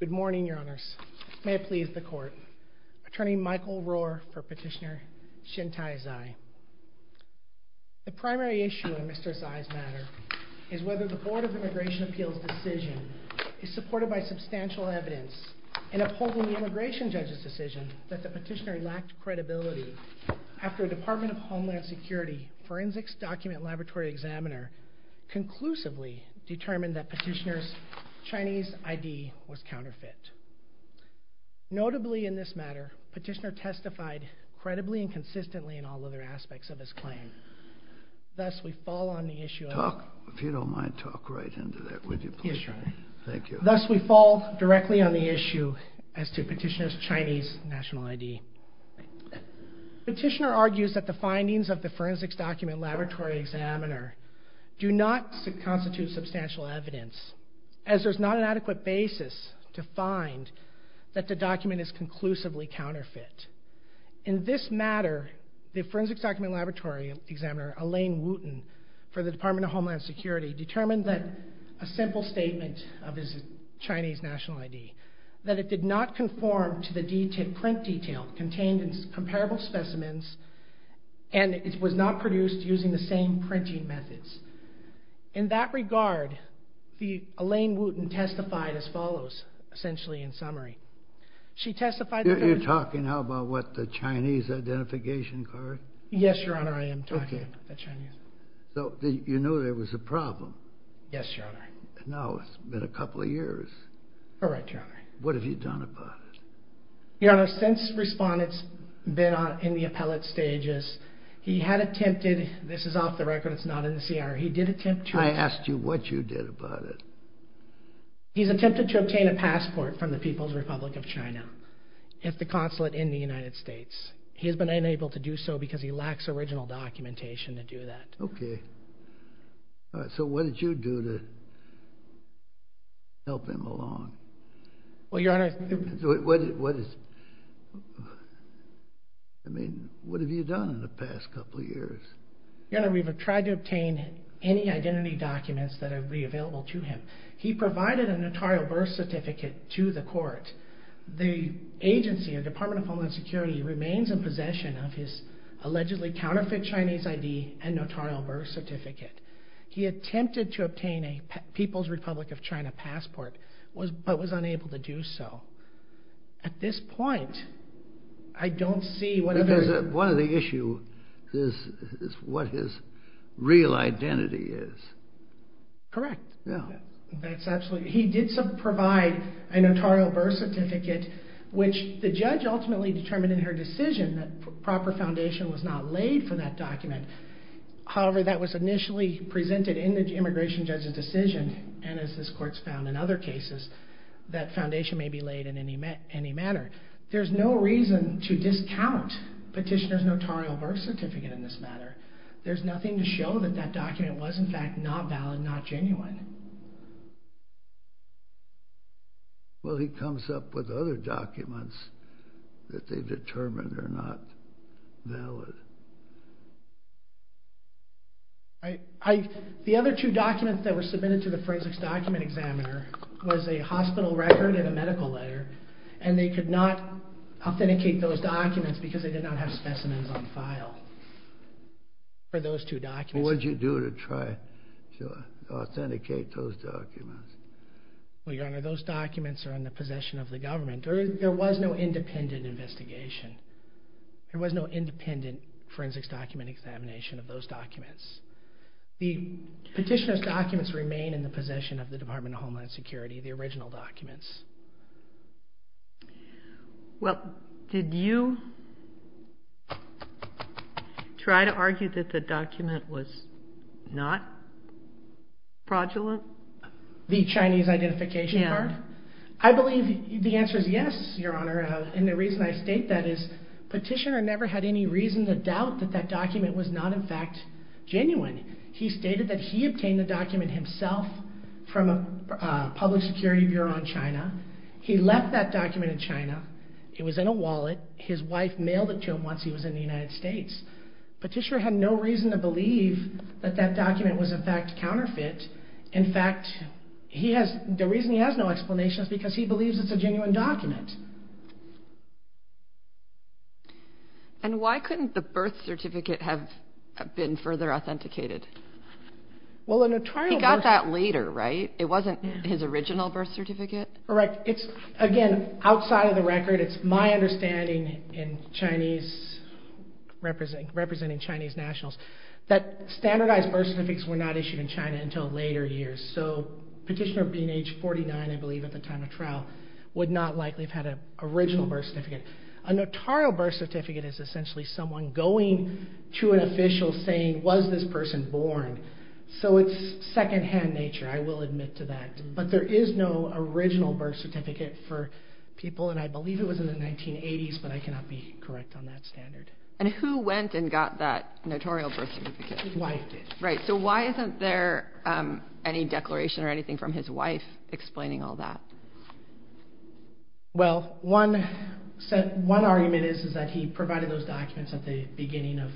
Good morning, Your Honors. May it please the Court. Attorney Michael Rohr for Petitioner Shintai Zhai. The primary issue in Mr. Zhai's matter is whether the Board of Immigration Appeals' decision is supported by substantial evidence in upholding the immigration judge's decision that the petitioner lacked credibility after a Department of Homeland Security Forensics Document Laboratory examiner conclusively determined that Petitioner's Chinese ID was counterfeit. Notably in this matter, Petitioner testified credibly and consistently in all other aspects of his claim. Thus, we fall on the issue of... Talk, if you don't mind, talk right into that, would you please? Yes, Your Honor. Thank you. Thus, we fall directly on the issue as to Petitioner's Chinese national ID. Petitioner argues that the findings of the Forensics Document Laboratory examiner do not constitute substantial evidence, as there's not an adequate basis to find that the document is conclusively counterfeit. In this matter, the Forensics Document Laboratory examiner, Elaine Wooten, for the Department of Homeland Security, determined that a simple statement of his Chinese national ID, that it did not conform to the print detail contained in comparable specimens, and it was not produced using the same printing methods. In that regard, Elaine Wooten testified as follows, essentially in summary. She testified that... You're talking now about what, the Chinese identification card? Yes, Your Honor, I am talking about the Chinese. So, you knew there was a problem? Yes, Your Honor. Now, it's been a couple of years. All right, Your Honor. What have you done about it? Your Honor, since Respondent's been in the appellate stages, he had attempted, this is off the record, it's not in the CR, he did attempt to... I asked you what you did about it. He's attempted to obtain a passport from the People's Republic of China. It's the consulate in the United States. He has been unable to do so because he lacks original documentation to do that. Okay. So, what did you do to help him along? Well, Your Honor... What is... I mean, what have you done in the past couple of years? Your Honor, we've tried to obtain any identity documents that would be available to him. He provided a notarial birth certificate to the court. The agency, the Department of Homeland Security, remains in possession of his allegedly counterfeit Chinese ID and notarial birth certificate. He attempted to obtain a People's Republic of China passport, but was unable to do so. At this point, I don't see what... Because one of the issues is what his real identity is. Correct. Yeah. That's absolutely... He did provide a notarial birth certificate, which the judge ultimately determined in her decision that proper foundation was not laid for that document. However, that was initially presented in the immigration judge's decision, and as this court's found in other cases, that foundation may be laid in any manner. There's no reason to discount petitioner's notarial birth certificate in this matter. There's nothing to show that that document was, in fact, not valid, not genuine. Well, he comes up with other documents that they've determined are not valid. The other two documents that were submitted to the forensics document examiner was a hospital record and a medical letter, and they could not authenticate those documents because they did not have specimens on file for those two documents. What did you do to try to authenticate those documents? Well, Your Honor, those documents are in the possession of the government. There was no independent investigation. There was no independent forensics document examination of those documents. The petitioner's documents remain in the possession of the Department of Homeland Security, the original documents. Well, did you try to argue that the document was not fraudulent? The Chinese identification card? I believe the answer is yes, Your Honor, and the reason I state that is petitioner never had any reason to doubt that that document was not, in fact, genuine. He stated that he obtained the document himself from a public security bureau in China. He left that document in China. It was in a wallet. His wife mailed it to him once he was in the United States. Petitioner had no reason to believe that that document was, in fact, counterfeit. In fact, the reason he has no explanation is because he believes it's a genuine document. And why couldn't the birth certificate have been further authenticated? He got that later, right? It wasn't his original birth certificate? Correct. Again, outside of the record, it's my understanding, representing Chinese nationals, that standardized birth certificates were not issued in China until later years. So petitioner being age 49, I believe, at the time of trial, would not likely have had an original birth certificate. A notarial birth certificate is essentially someone going to an official saying, was this person born? So it's secondhand nature, I will admit to that. But there is no original birth certificate for people, and I believe it was in the 1980s, but I cannot be correct on that standard. And who went and got that notarial birth certificate? His wife did. Right. So why isn't there any declaration or anything from his wife explaining all that? Well, one argument is that he provided those documents at the beginning of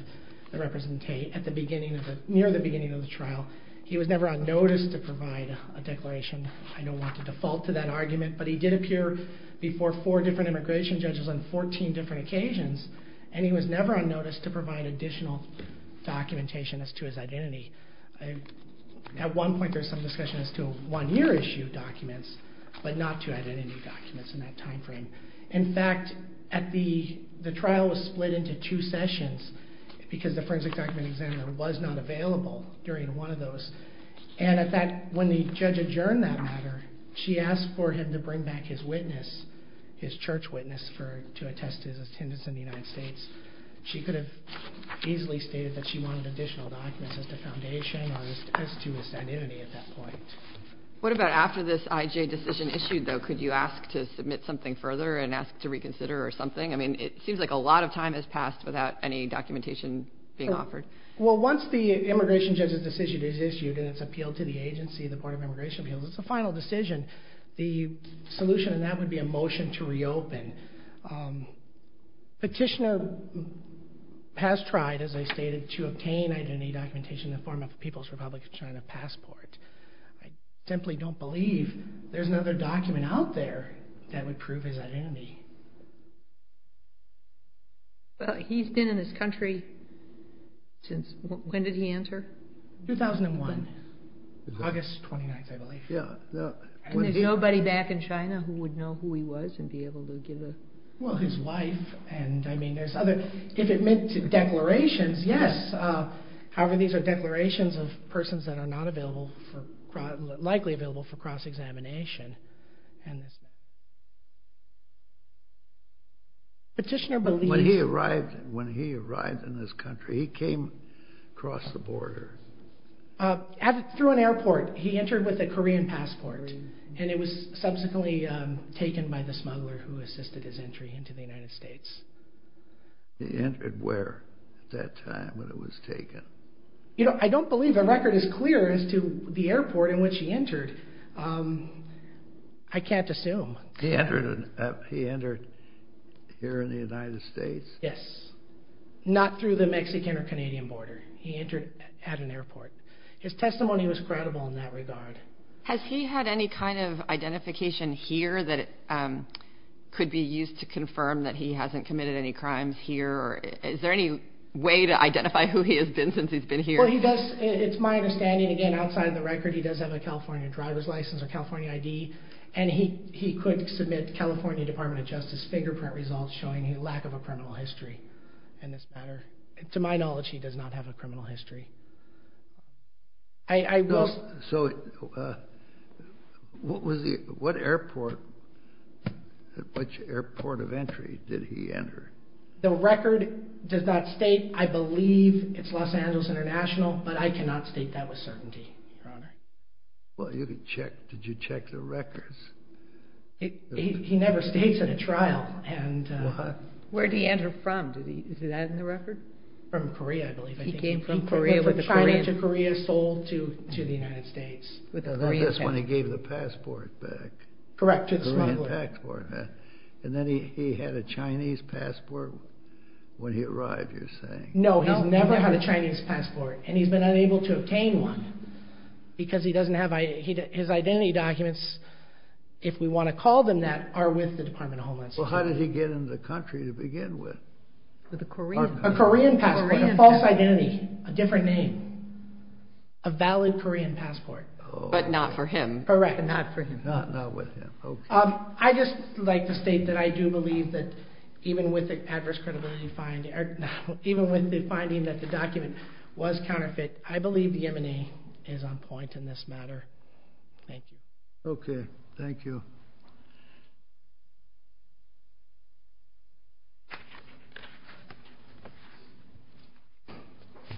the trial. He was never on notice to provide a declaration. I don't want to default to that argument, but he did appear before four different immigration judges on 14 different occasions, and he was never on notice to provide additional documentation as to his identity. At one point there was some discussion as to a one-year issue of documents, but not two identity documents in that time frame. In fact, the trial was split into two sessions because the forensic document examiner was not available during one of those. And in fact, when the judge adjourned that matter, she asked for him to bring back his witness, his church witness, to attest to his attendance in the United States. She could have easily stated that she wanted additional documents as to foundation or as to his identity at that point. What about after this IJ decision issued, though? Could you ask to submit something further and ask to reconsider or something? I mean, it seems like a lot of time has passed without any documentation being offered. Well, once the immigration judge's decision is issued and it's appealed to the agency, the Board of Immigration Appeals, it's a final decision. The solution to that would be a motion to reopen. Petitioner has tried, as I stated, to obtain identity documentation in the form of a People's Republic of China passport. I simply don't believe there's another document out there that would prove his identity. Well, he's been in this country since, when did he enter? 2001, August 29th, I believe. And there's nobody back in China who would know who he was and be able to give a... Well, his wife and, I mean, there's other, if it meant declarations, yes. However, these are declarations of persons that are not available for, likely available for cross-examination. Petitioner believes... When he arrived in this country, he came across the border. Through an airport. He entered with a Korean passport, and it was subsequently taken by the smuggler who assisted his entry into the United States. He entered where at that time when it was taken? You know, I don't believe a record is clear as to the airport in which he entered. I can't assume. He entered here in the United States? Yes. Not through the Mexican or Canadian border. He entered at an airport. His testimony was credible in that regard. Has he had any kind of identification here that could be used to confirm that he hasn't committed any crimes here? Is there any way to identify who he has been since he's been here? It's my understanding, again, outside the record, he does have a California driver's license or California ID, and he could submit California Department of Justice fingerprint results showing a lack of a criminal history in this matter. To my knowledge, he does not have a criminal history. What airport of entry did he enter? The record does not state. I believe it's Los Angeles International, but I cannot state that with certainty, Your Honor. Well, did you check the records? He never states at a trial. Where did he enter from? Is that in the record? From Korea, I believe. He came from China to Korea, sold to the United States. That's when he gave the passport back. Correct, to the smuggler. And then he had a Chinese passport when he arrived, you're saying? No, he's never had a Chinese passport, and he's been unable to obtain one because his identity documents, if we want to call them that, are with the Department of Homeland Security. Well, how did he get into the country to begin with? With a Korean passport, a false identity, a different name, a valid Korean passport. But not for him. Correct, not for him. Not with him, okay. I'd just like to state that I do believe that even with the adverse credibility finding, even with the finding that the document was counterfeit, I believe the M&A is on point in this matter. Thank you. Okay, thank you.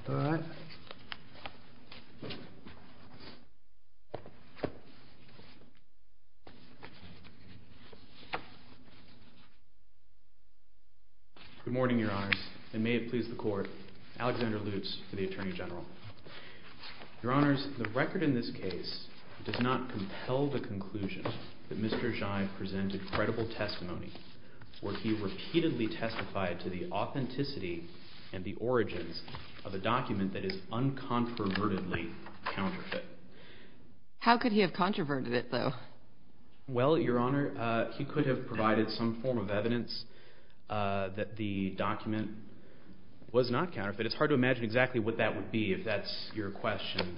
Thank you. Good morning, Your Honors, and may it please the Court, Alexander Lutz for the Attorney General. Your Honors, the record in this case does not compel the conclusion that Mr. Zhai presented credible testimony where he repeatedly testified to the authenticity and the origins of a document that is uncontrovertedly counterfeit. How could he have controverted it, though? Well, Your Honor, he could have provided some form of evidence that the document was not counterfeit. It's hard to imagine exactly what that would be, if that's your question.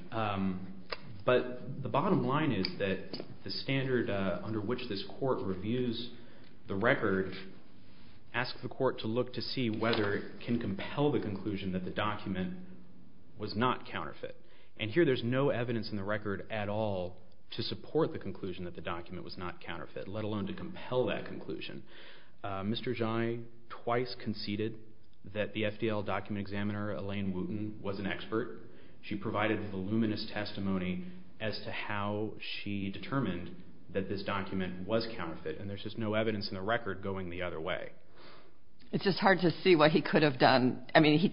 But the bottom line is that the standard under which this court reviews the record asks the court to look to see whether it can compel the conclusion that the document was not counterfeit. And here there's no evidence in the record at all to support the conclusion that the document was not counterfeit, let alone to compel that conclusion. Mr. Zhai twice conceded that the FDL document examiner, Elaine Wooten, was an expert. She provided voluminous testimony as to how she determined that this document was counterfeit. And there's just no evidence in the record going the other way. It's just hard to see what he could have done. I mean,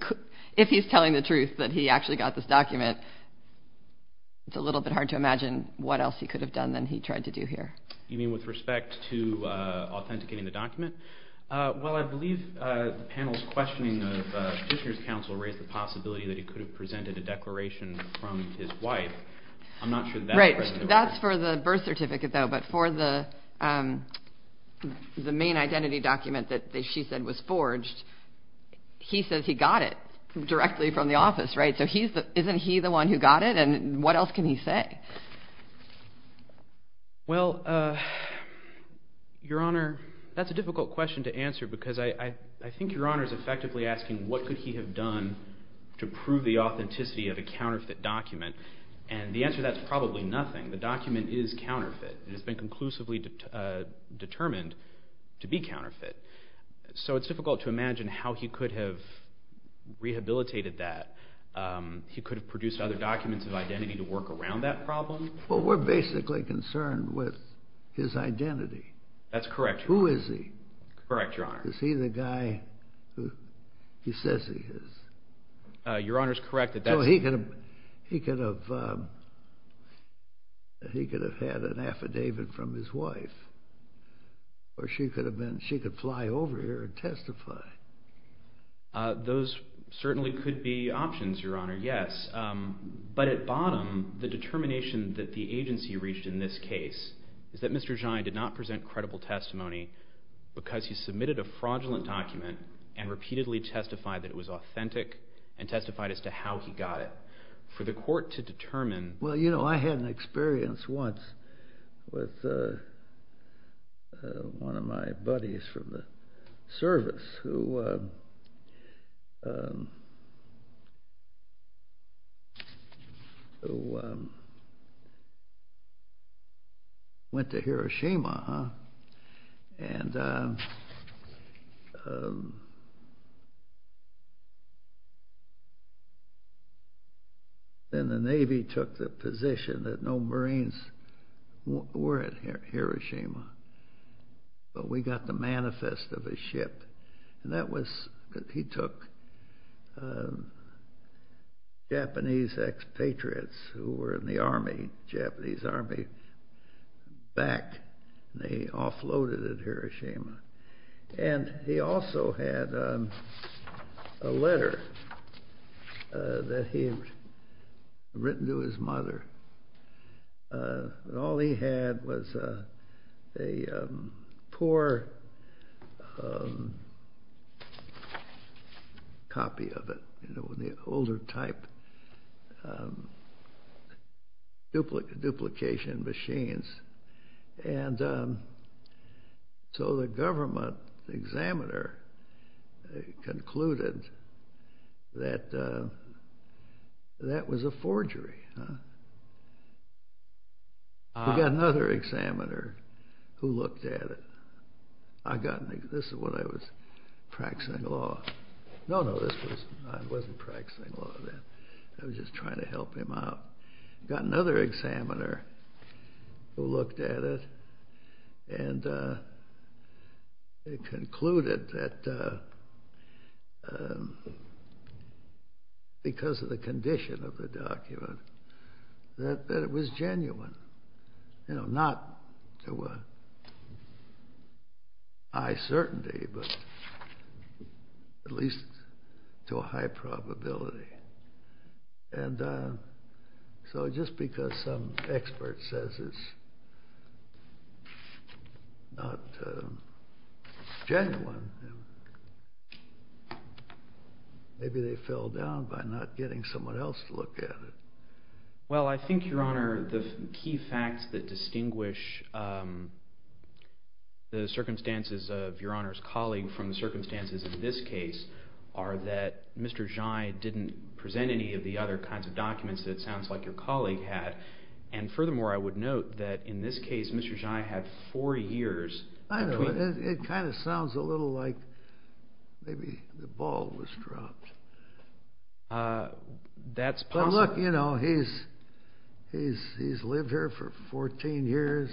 if he's telling the truth that he actually got this document, it's a little bit hard to imagine what else he could have done than he tried to do here. You mean with respect to authenticating the document? Well, I believe the panel's questioning of Petitioner's counsel raised the possibility that he could have presented a declaration from his wife. I'm not sure that's present in the record. Right. That's for the birth certificate, though. But for the main identity document that she said was forged, he says he got it directly from the office, right? So isn't he the one who got it? And what else can he say? Well, Your Honor, that's a difficult question to answer because I think Your Honor is effectively asking what could he have done to prove the authenticity of a counterfeit document. And the answer to that is probably nothing. The document is counterfeit. It has been conclusively determined to be counterfeit. So it's difficult to imagine how he could have rehabilitated that. He could have produced other documents of identity to work around that problem. Well, we're basically concerned with his identity. That's correct. Who is he? Correct, Your Honor. Is he the guy who he says he is? Your Honor is correct. So he could have had an affidavit from his wife, or she could fly over here and testify. Those certainly could be options, Your Honor, yes. But at bottom, the determination that the agency reached in this case is that Mr. Zhai did not present credible testimony because he submitted a fraudulent document and repeatedly testified that it was authentic and testified as to how he got it for the court to determine. Well, you know, I had an experience once with one of my buddies from the service who went to Hiroshima, and then the Navy took the position that no Marines were at Hiroshima. But we got the manifest of his ship, and that was that he took Japanese expatriates who were in the Army, Japanese Army, back, and they offloaded at Hiroshima. And he also had a letter that he had written to his mother. And all he had was a poor copy of it, the older type duplication machines. And so the government examiner concluded that that was a forgery. We got another examiner who looked at it. This is when I was practicing law. No, no, I wasn't practicing law then. I was just trying to help him out. We got another examiner who looked at it, and they concluded that because of the condition of the document that it was genuine, you know, not to high certainty, but at least to a high probability. And so just because some expert says it's not genuine, maybe they fell down by not getting someone else to look at it. Well, I think, Your Honor, the key facts that distinguish the circumstances of Your Honor's colleague from the circumstances of this case are that Mr. Zhai didn't present any of the other kinds of documents that it sounds like your colleague had. And furthermore, I would note that in this case, Mr. Zhai had four years. I know. It kind of sounds a little like maybe the ball was dropped. That's possible. Well, look, you know, he's lived here for 14 years,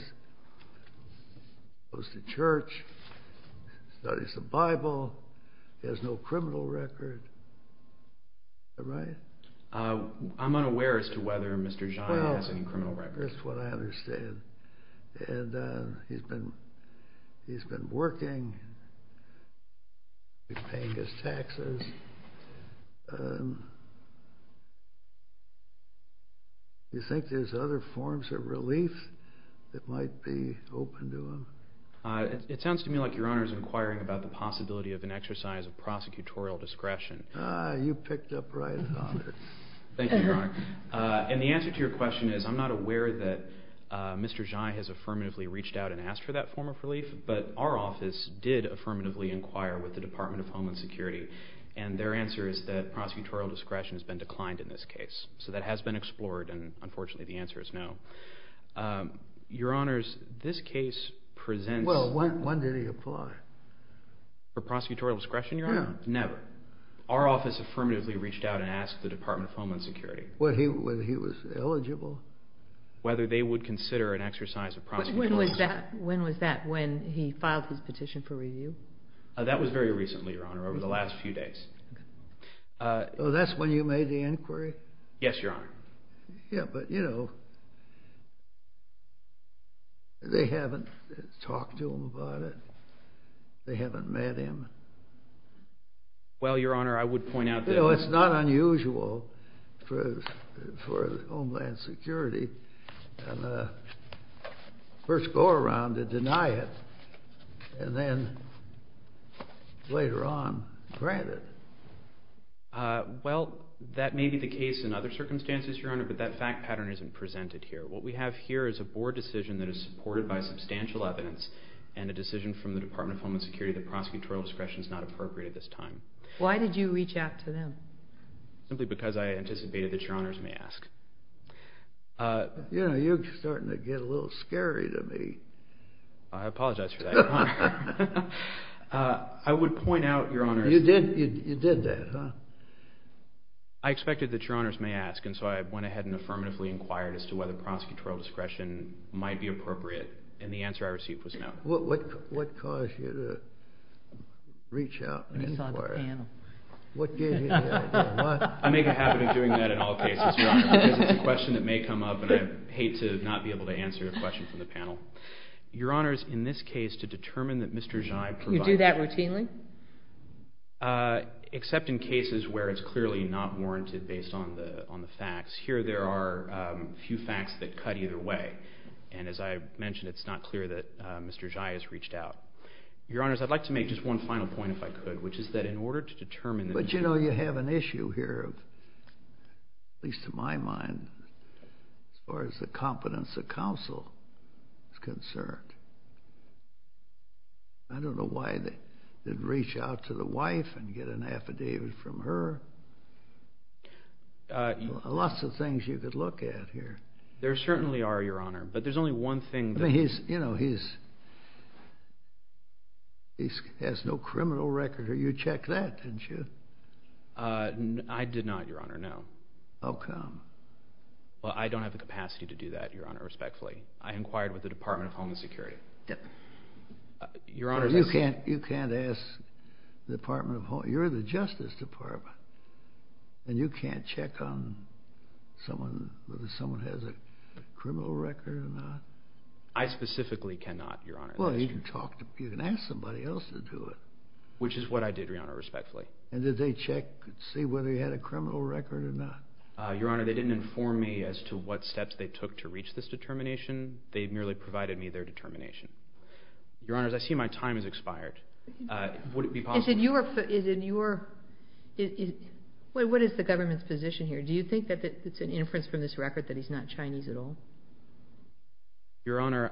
goes to church, studies the Bible, has no criminal record. Is that right? I'm unaware as to whether Mr. Zhai has any criminal record. Well, that's what I understand. And he's been working, paying his taxes. Do you think there's other forms of relief that might be open to him? It sounds to me like Your Honor is inquiring about the possibility of an exercise of prosecutorial discretion. Ah, you picked up right on. Thank you, Your Honor. And the answer to your question is I'm not aware that Mr. Zhai has affirmatively reached out and asked for that form of relief, but our office did affirmatively inquire with the Department of Homeland Security, and their answer is that prosecutorial discretion has been declined in this case. So that has been explored, and unfortunately the answer is no. Your Honors, this case presents... Well, when did he apply? For prosecutorial discretion, Your Honor? No. Never. Our office affirmatively reached out and asked the Department of Homeland Security... Whether he was eligible? ...whether they would consider an exercise of prosecutorial discretion. When was that? When was that, when he filed his petition for review? That was very recently, Your Honor, over the last few days. So that's when you made the inquiry? Yes, Your Honor. Yeah, but, you know, they haven't talked to him about it. They haven't met him. Well, Your Honor, I would point out that... You know, it's not unusual for Homeland Security to first go around to deny it, and then later on grant it. Well, that may be the case in other circumstances, Your Honor, but that fact pattern isn't presented here. What we have here is a board decision that is supported by substantial evidence and a decision from the Department of Homeland Security that prosecutorial discretion is not appropriate at this time. Why did you reach out to them? Simply because I anticipated that Your Honors may ask. You know, you're starting to get a little scary to me. I apologize for that, Your Honor. I would point out, Your Honors... You did that, huh? I expected that Your Honors may ask, and so I went ahead and affirmatively inquired as to whether prosecutorial discretion might be appropriate, and the answer I received was no. What caused you to reach out and inquire? It's on the panel. What gave you the idea? I make a habit of doing that in all cases, Your Honor, because it's a question that may come up, and I hate to not be able to answer a question from the panel. Your Honors, in this case, to determine that Mr. Zhai provided... Do you do that routinely? Except in cases where it's clearly not warranted based on the facts. Here there are a few facts that cut either way, and as I mentioned, it's not clear that Mr. Zhai has reached out. Your Honors, I'd like to make just one final point, if I could, which is that in order to determine... But, you know, you have an issue here, at least to my mind, as far as the competence of counsel is concerned. I don't know why they'd reach out to the wife and get an affidavit from her. Lots of things you could look at here. There certainly are, Your Honor, but there's only one thing... I mean, you know, he has no criminal record. You checked that, didn't you? I did not, Your Honor, no. How come? Well, I don't have the capacity to do that, Your Honor, respectfully. I inquired with the Department of Homeland Security. You can't ask the Department of Homeland... You're the Justice Department, and you can't check on whether someone has a criminal record or not? I specifically cannot, Your Honor. Well, you can ask somebody else to do it. Which is what I did, Your Honor, respectfully. And did they check to see whether he had a criminal record or not? Your Honor, they didn't inform me as to what steps they took to reach this determination. They merely provided me their determination. Your Honors, I see my time has expired. Would it be possible... What is the government's position here? Do you think that it's an inference from this record that he's not Chinese at all? Your Honor,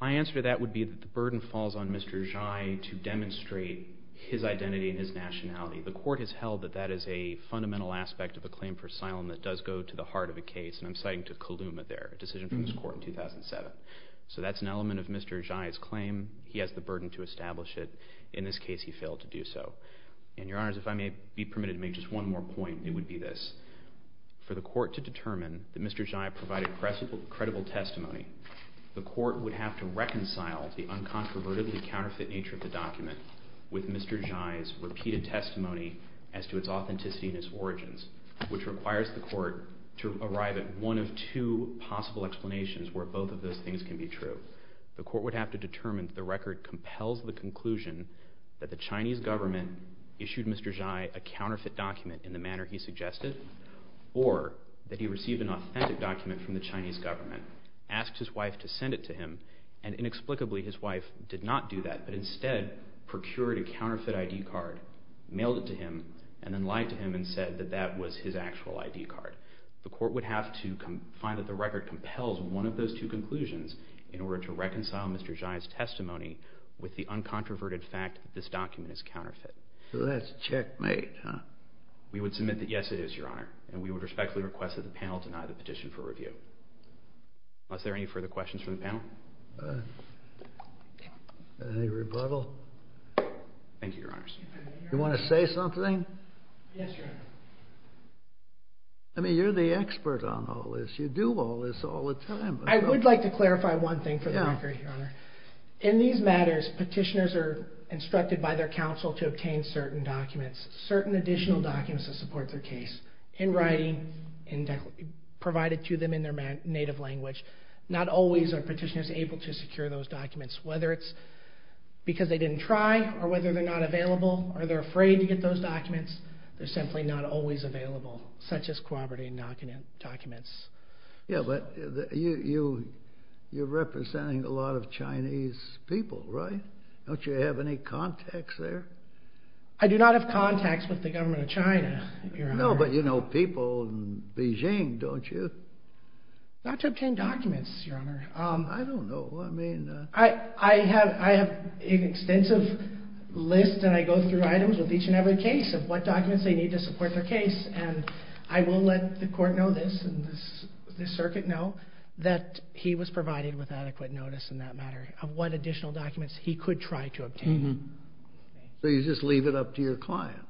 my answer to that would be that the burden falls on Mr. Zhai to demonstrate his identity and his nationality. The Court has held that that is a fundamental aspect of a claim for asylum that does go to the heart of a case, and I'm citing to Kaluma there, a decision from this Court in 2007. So that's an element of Mr. Zhai's claim. He has the burden to establish it. In this case, he failed to do so. And, Your Honors, if I may be permitted to make just one more point, it would be this. For the Court to determine that Mr. Zhai provided credible testimony, the Court would have to reconcile the uncontrovertedly counterfeit nature of the document with Mr. Zhai's repeated testimony as to its authenticity and its origins, which requires the Court to arrive at one of two possible explanations where both of those things can be true. The Court would have to determine that the record compels the conclusion that the Chinese government issued Mr. Zhai a counterfeit document in the manner he suggested, or that he received an authentic document from the Chinese government, asked his wife to send it to him, and inexplicably his wife did not do that, but instead procured a counterfeit ID card, mailed it to him, and then lied to him and said that that was his actual ID card. The Court would have to find that the record compels one of those two conclusions in order to reconcile Mr. Zhai's testimony with the uncontroverted fact that this document is counterfeit. So that's checkmate, huh? We would submit that, yes, it is, Your Honor. And we would respectfully request that the panel deny the petition for review. Are there any further questions from the panel? Any rebuttal? Thank you, Your Honor. Do you want to say something? Yes, Your Honor. I mean, you're the expert on all this. You do all this all the time. I would like to clarify one thing for the record, Your Honor. In these matters, petitioners are instructed by their counsel to obtain certain documents, certain additional documents to support their case, in writing, and provided to them in their native language. Not always are petitioners able to secure those documents. Whether it's because they didn't try, or whether they're not available, or they're afraid to get those documents, they're simply not always available, such as corroborating documents. Yeah, but you're representing a lot of Chinese people, right? Don't you have any contacts there? I do not have contacts with the government of China, Your Honor. No, but you know people in Beijing, don't you? Not to obtain documents, Your Honor. I don't know. I mean... I have an extensive list, and I go through items with each and every case of what documents they need to support their case, and I will let the court know this, and this circuit know, that he was provided with adequate notice in that matter of what additional documents he could try to obtain. So you just leave it up to your client?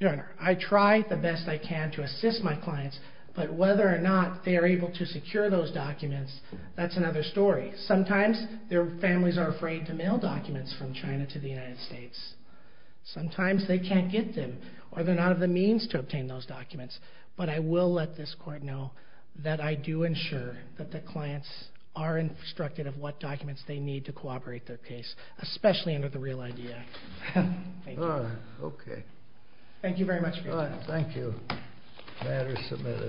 Your Honor, I try the best I can to assist my clients, but whether or not they are able to secure those documents, that's another story. Sometimes their families are afraid to mail documents from China to the United States. Sometimes they can't get them, or they're not of the means to obtain those documents. But I will let this court know that I do ensure that the clients are instructed of what documents they need to corroborate their case, especially under the Real ID Act. Thank you. Okay. Thank you very much for your time. Thank you. The matter is submitted.